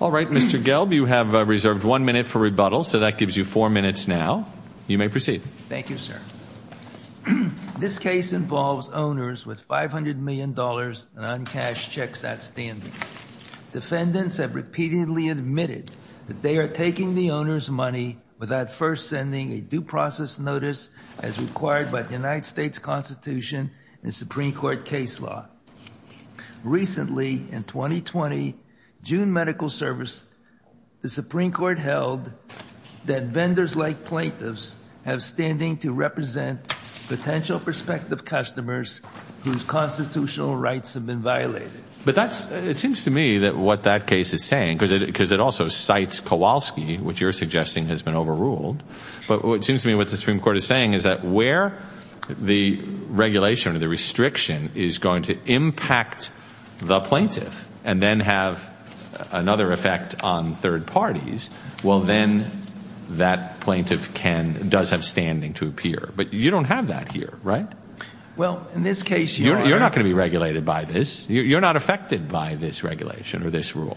All right, Mr. Gelb, you have reserved one minute for rebuttal. So that gives you four minutes now. You may proceed. Thank you, sir. This case involves owners with $500 million in uncashed checks at standing. Defendants have repeatedly admitted that they are taking the owner's money without first sending a due process notice as required by the United States Constitution and Supreme Court case law. Recently, in 2020, June Medical Service, the Supreme Court held that vendors like plaintiffs have standing to represent potential prospective customers whose constitutional rights have been violated. But that's, it seems to me that what that case is saying, because it also cites Kowalski, which you're suggesting has been overruled. But what it seems to me what the Supreme Court is saying is that where the regulation or the restriction is going to impact the plaintiff and then have another effect on third parties, well, then that plaintiff can, does have standing to appear. But you don't have that here, right? Well, in this case, Your Honor. You're not going to be regulated by this. You're not affected by this regulation or this rule.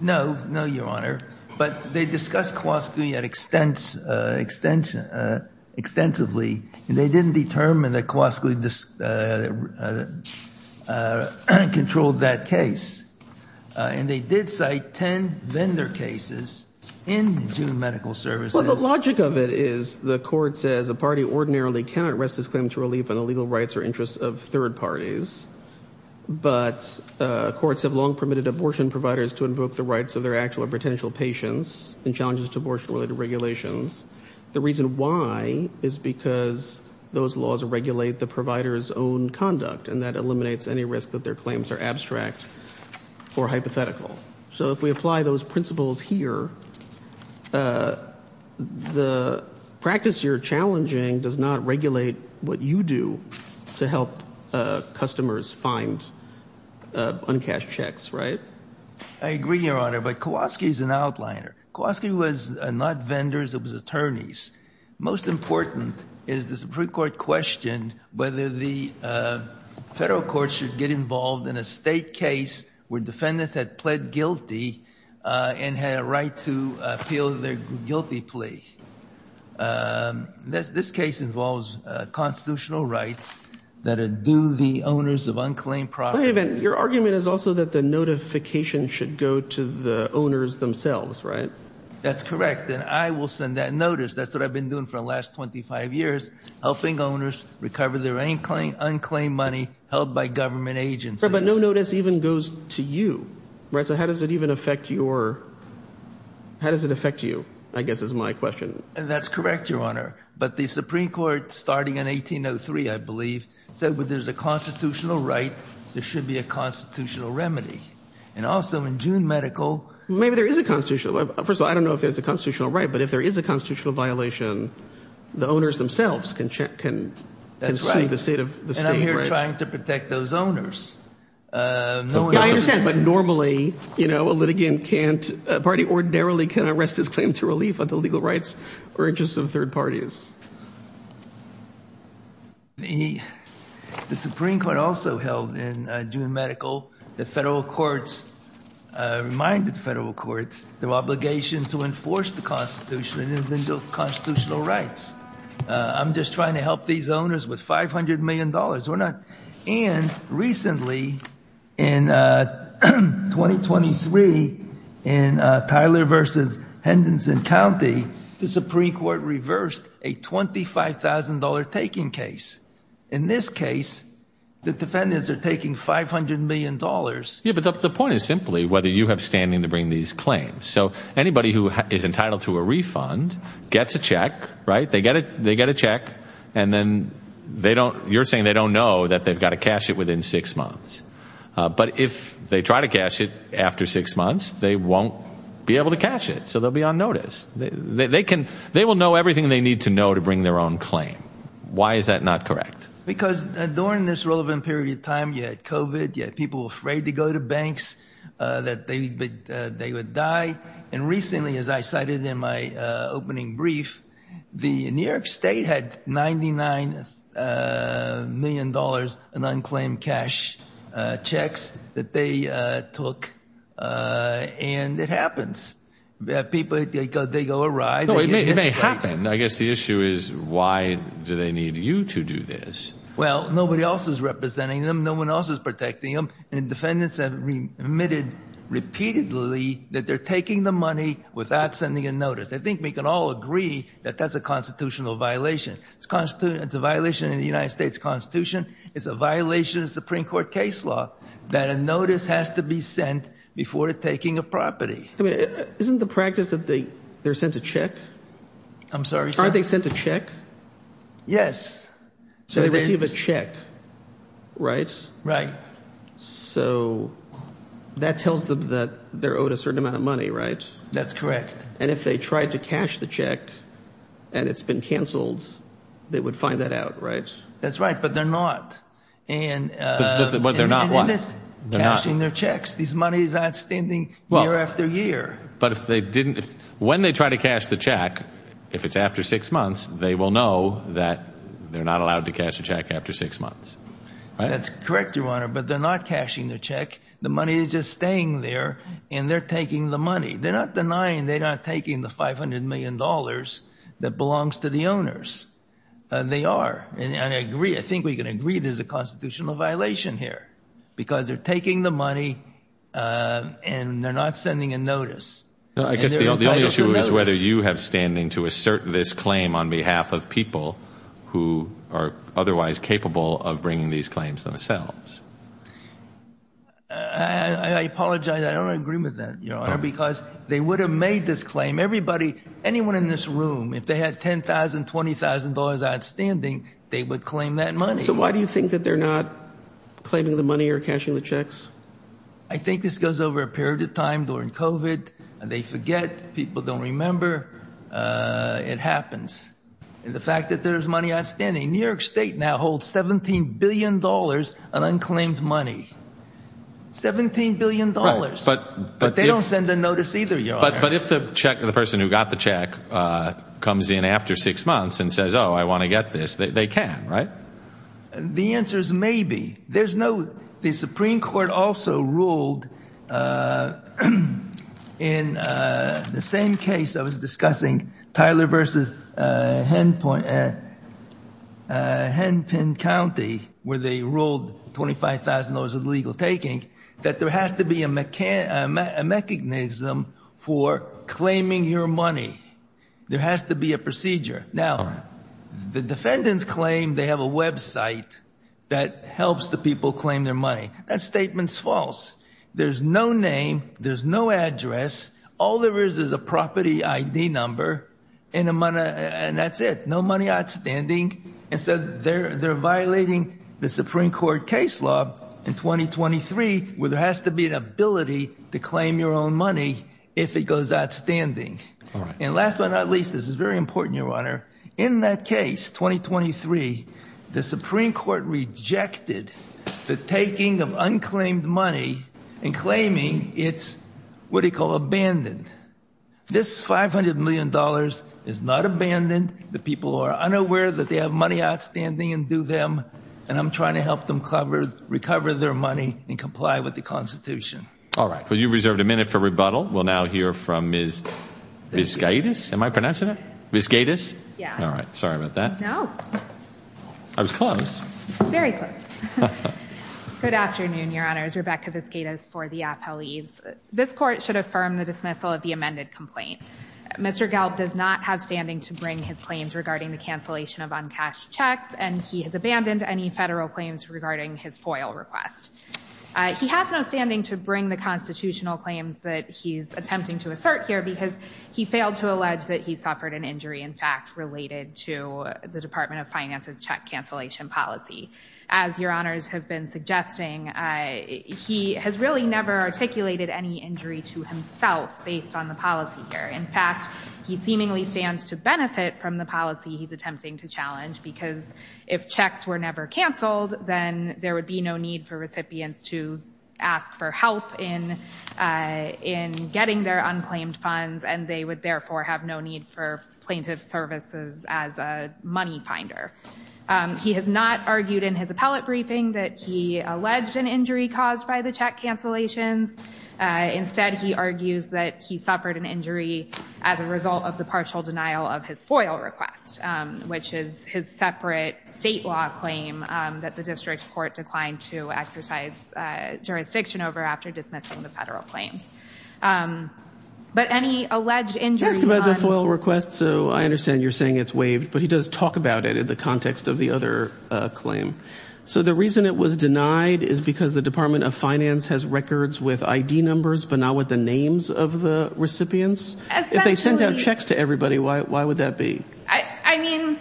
No, no, Your Honor. But they discussed Kowalski extensively. And they didn't determine that Kowalski controlled that case. And they did cite 10 vendor cases in June Medical Services. Well, the logic of it is the court says a party ordinarily cannot rest its claim to relief on the legal rights or interests of third parties. But courts have long permitted abortion providers to invoke the rights of their actual or potential patients in challenges to abortion-related regulations. The reason why is because those laws regulate the provider's own conduct, and that eliminates any risk that their claims are abstract or hypothetical. So if we apply those principles here, the practice you're challenging does not regulate what you do to help customers find uncashed checks, right? I agree, Your Honor, but Kowalski is an outliner. Kowalski was not vendors, it was attorneys. Most important is the Supreme Court questioned whether the federal courts should get involved in a state case where defendants had pled guilty and had a right to appeal their guilty plea. This case involves constitutional rights that adieu the owners of unclaimed property. Wait a minute. Your argument is also that the notification should go to the owners themselves, right? That's correct, and I will send that notice. That's what I've been doing for the last 25 years, helping owners recover their unclaimed money held by government agencies. Your Honor, but no notice even goes to you, right? So how does it even affect your – how does it affect you, I guess, is my question. That's correct, Your Honor, but the Supreme Court, starting in 1803, I believe, said when there's a constitutional right, there should be a constitutional remedy. And also in June medical – Maybe there is a constitutional – first of all, I don't know if there's a constitutional right, but if there is a constitutional violation, the owners themselves can sue the state of – Yeah, I understand, but normally, you know, a litigant can't – a party ordinarily can't arrest his claim to relief of the legal rights or interests of third parties. The Supreme Court also held in June medical that federal courts – reminded federal courts their obligation to enforce the constitutional rights. I'm just trying to help these owners with $500 million. We're not – and recently in 2023 in Tyler versus Henderson County, the Supreme Court reversed a $25,000 taking case. In this case, the defendants are taking $500 million. Yeah, but the point is simply whether you have standing to bring these claims. So anybody who is entitled to a refund gets a check, right? They're saying they don't know that they've got to cash it within six months. But if they try to cash it after six months, they won't be able to cash it. So they'll be on notice. They can – they will know everything they need to know to bring their own claim. Why is that not correct? Because during this relevant period of time, you had COVID, you had people afraid to go to banks, that they would die. And recently, as I cited in my opening brief, the New York State had $99 million in unclaimed cash checks that they took, and it happens. People – they go awry. No, it may happen. I guess the issue is why do they need you to do this? Well, nobody else is representing them. No one else is protecting them. And defendants have admitted repeatedly that they're taking the money without sending a notice. I think we can all agree that that's a constitutional violation. It's a violation of the United States Constitution. It's a violation of the Supreme Court case law that a notice has to be sent before taking a property. Isn't the practice that they're sent a check? I'm sorry, sir? Aren't they sent a check? Yes. So they receive a check, right? Right. So that tells them that they're owed a certain amount of money, right? That's correct. And if they tried to cash the check and it's been canceled, they would find that out, right? That's right, but they're not. But they're not what? Cashing their checks. These monies aren't standing year after year. But if they didn't – when they try to cash the check, if it's after six months, they will know that they're not allowed to cash the check after six months, right? That's correct, Your Honor, but they're not cashing the check. The money is just staying there and they're taking the money. They're not denying they're not taking the $500 million that belongs to the owners. They are, and I agree. I think we can agree there's a constitutional violation here because they're taking the money and they're not sending a notice. I guess the only issue is whether you have standing to assert this claim on behalf of people who are otherwise capable of bringing these claims themselves. I apologize. I don't agree with that, Your Honor, because they would have made this claim. Everybody, anyone in this room, if they had $10,000, $20,000 outstanding, they would claim that money. So why do you think that they're not claiming the money or cashing the checks? I think this goes over a period of time during COVID. They forget. People don't remember. It happens. The fact that there's money outstanding. New York State now holds $17 billion in unclaimed money. $17 billion. But they don't send a notice either, Your Honor. But if the person who got the check comes in after six months and says, oh, I want to get this, they can, right? The answer is maybe. The Supreme Court also ruled in the same case I was discussing, Tyler versus Henpin County, where they ruled $25,000 of legal taking, that there has to be a mechanism for claiming your money. There has to be a procedure. Now, the defendants claim they have a website that helps the people claim their money. That statement's false. There's no name. There's no address. All there is is a property ID number and that's it. No money outstanding. And so they're violating the Supreme Court case law in 2023 where there has to be an ability to claim your own money if it goes outstanding. And last but not least, this is very important, Your Honor. In that case, 2023, the Supreme Court rejected the taking of unclaimed money and claiming it's what they call abandoned. This $500 million is not abandoned. The people are unaware that they have money outstanding and do them. And I'm trying to help them recover their money and comply with the Constitution. All right. Well, you reserved a minute for rebuttal. We'll now hear from Ms. Vizgaitis. Am I pronouncing it? Vizgaitis? Yeah. All right. Sorry about that. No. I was close. Very close. Good afternoon, Your Honors. Rebecca Vizgaitis for the Appellees. This Court should affirm the dismissal of the amended complaint. Mr. Gelb does not have standing to bring his claims regarding the cancellation of uncashed checks, and he has abandoned any federal claims regarding his FOIL request. He has no standing to bring the constitutional claims that he's attempting to assert here because he failed to allege that he suffered an injury, in fact, related to the Department of Finance's check cancellation policy. As Your Honors have been suggesting, he has really never articulated any injury to himself based on the policy here. In fact, he seemingly stands to benefit from the policy he's attempting to challenge because if checks were never canceled, then there would be no need for recipients to ask for help in getting their unclaimed funds, and they would therefore have no need for plaintiff services as a money finder. He has not argued in his appellate briefing that he alleged an injury caused by the check cancellations. Instead, he argues that he suffered an injury as a result of the partial denial of his FOIL request, which is his separate state law claim that the district court declined to exercise jurisdiction over after dismissing the federal claims. But any alleged injury— You asked about the FOIL request, so I understand you're saying it's waived, but he does talk about it in the context of the other claim. So the reason it was denied is because the Department of Finance has records with ID numbers but not with the names of the recipients? Essentially— If they sent out checks to everybody, why would that be? I mean,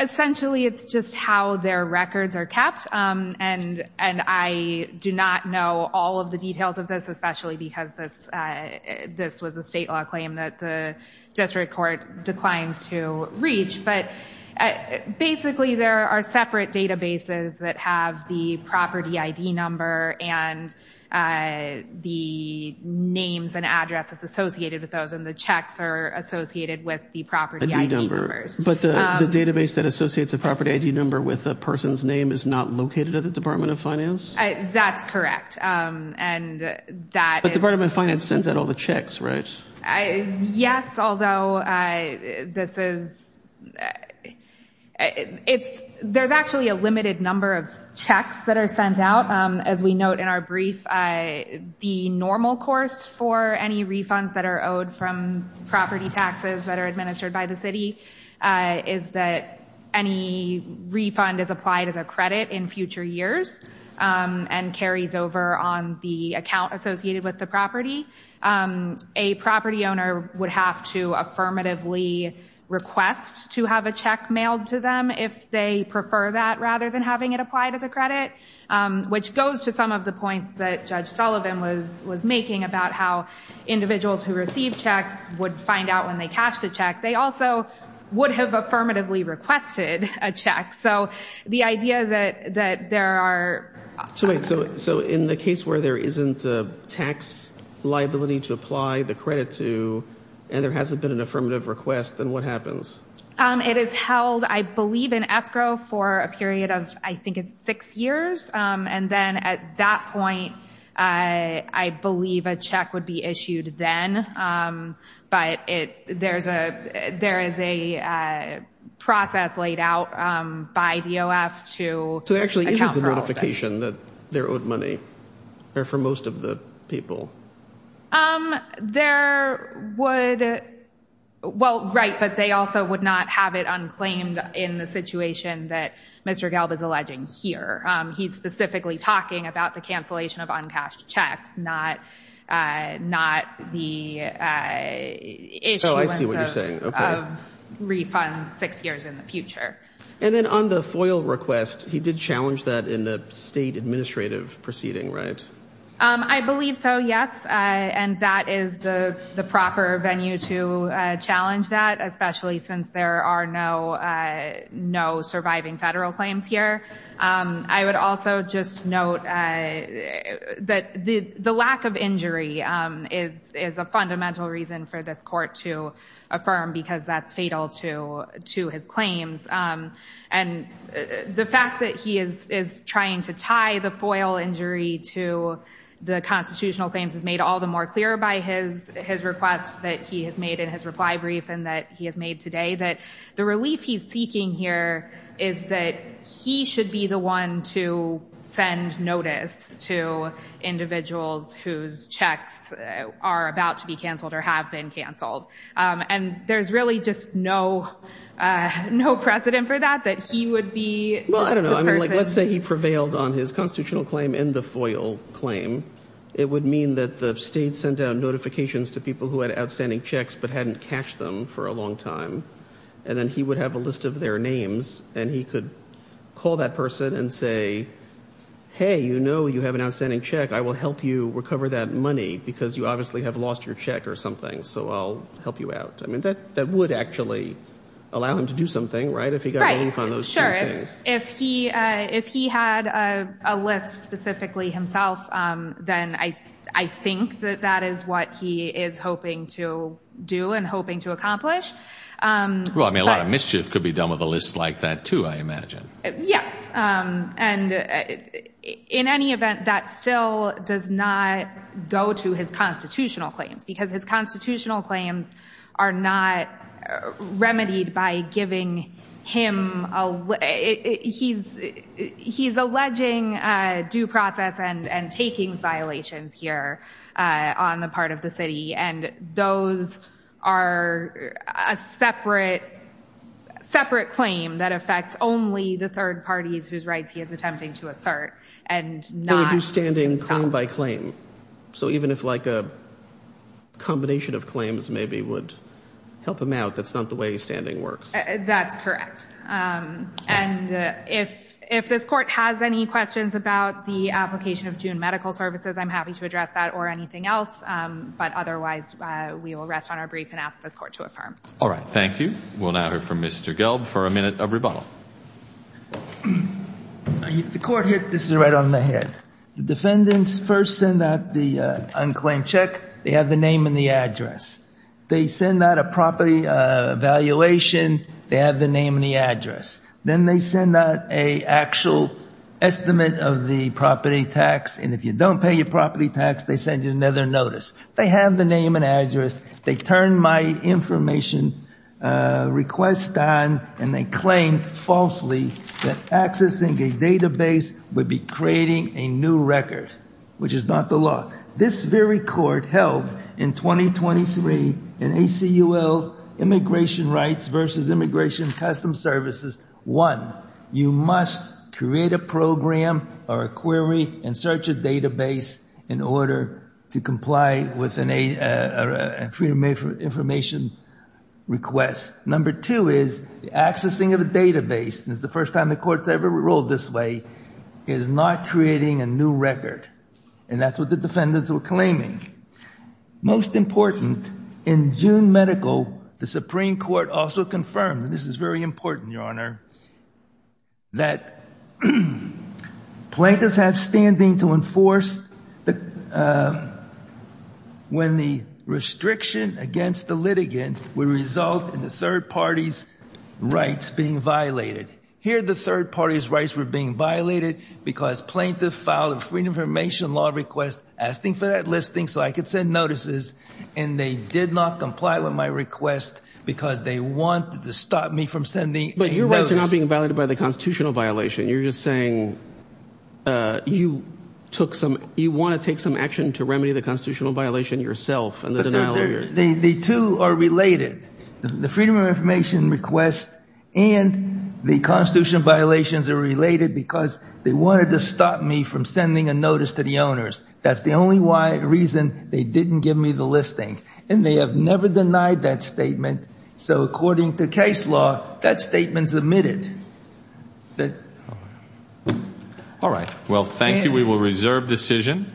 essentially, it's just how their records are kept, and I do not know all of the details of this, especially because this was a state law claim that the district court declined to reach. But basically, there are separate databases that have the property ID number and the names and addresses associated with those, and the checks are associated with the property ID numbers. But the database that associates a property ID number with a person's name is not located at the Department of Finance? That's correct, and that is— But the Department of Finance sends out all the checks, right? Yes, although this is— There's actually a limited number of checks that are sent out. As we note in our brief, the normal course for any refunds that are owed from property taxes that are administered by the city is that any refund is applied as a credit in future years and carries over on the account associated with the property. A property owner would have to affirmatively request to have a check mailed to them if they prefer that, rather than having it applied as a credit, which goes to some of the points that Judge Sullivan was making about how individuals who receive checks would find out when they cashed a check. They also would have affirmatively requested a check, so the idea that there are— So in the case where there isn't a tax liability to apply the credit to, and there hasn't been an affirmative request, then what happens? It is held, I believe, in escrow for a period of, I think it's six years, and then at that point, I believe a check would be issued then, but there is a process laid out by DOF to account for all of that. Is there any indication that their owed money are for most of the people? There would—well, right, but they also would not have it unclaimed in the situation that Mr. Gelb is alleging here. He's specifically talking about the cancellation of uncashed checks, not the issuance of— Oh, I see what you're saying. Okay. —refunds six years in the future. And then on the FOIL request, he did challenge that in the state administrative proceeding, right? I believe so, yes, and that is the proper venue to challenge that, especially since there are no surviving federal claims here. I would also just note that the lack of injury is a fundamental reason for this court to affirm, because that's fatal to his claims. And the fact that he is trying to tie the FOIL injury to the constitutional claims is made all the more clear by his request that he has made in his reply brief that the relief he's seeking here is that he should be the one to send notice to individuals whose checks are about to be canceled or have been canceled. And there's really just no precedent for that, that he would be the person— Well, I don't know. I mean, let's say he prevailed on his constitutional claim in the FOIL claim. It would mean that the state sent out notifications to people who had outstanding checks but hadn't cashed them for a long time. And then he would have a list of their names, and he could call that person and say, Hey, you know you have an outstanding check. I will help you recover that money because you obviously have lost your check or something, so I'll help you out. I mean, that would actually allow him to do something, right, if he got relief on those two things? If he had a list specifically himself, then I think that that is what he is hoping to do and hoping to accomplish. Well, I mean, a lot of mischief could be done with a list like that, too, I imagine. Yes. And in any event, that still does not go to his constitutional claims because his constitutional claims are not remedied by giving him— He's alleging due process and taking violations here on the part of the city, and those are a separate claim that affects only the third parties whose rights he is attempting to assert and not— He would do standing claim by claim. So even if like a combination of claims maybe would help him out, that's not the way standing works. That's correct. And if this court has any questions about the application of June medical services, I'm happy to address that or anything else, but otherwise we will rest on our brief and ask this court to affirm. All right. Thank you. We'll now hear from Mr. Gelb for a minute of rebuttal. The court hit this right on the head. The defendants first send out the unclaimed check. They have the name and the address. They send out a property evaluation. They have the name and the address. Then they send out an actual estimate of the property tax, and if you don't pay your property tax, they send you another notice. They have the name and address. They turn my information request on, and they claim falsely that accessing a database would be creating a new record, which is not the law. This very court held in 2023 in ACUL immigration rights versus immigration custom services, one, you must create a program or a query and search a database in order to comply with an information request. Number two is the accessing of a database, and it's the first time the court's ever ruled this way, is not creating a new record, and that's what the defendants were claiming. Most important, in June medical, the Supreme Court also confirmed, and this is very important, Your Honor, that plaintiffs have standing to enforce when the restriction against the litigant would result in the third party's rights being violated. Here the third party's rights were being violated because plaintiff filed a freedom of information law request asking for that listing so I could send notices, and they did not comply with my request because they wanted to stop me from sending a notice. But your rights are not being violated by the constitutional violation. You're just saying you took some – you want to take some action to remedy the constitutional violation yourself and the denial of your – The two are related. The freedom of information request and the constitutional violations are related because they wanted to stop me from sending a notice to the owners. That's the only reason they didn't give me the listing, and they have never denied that statement, so according to case law, that statement's omitted. All right. Well, thank you. We will reserve decision.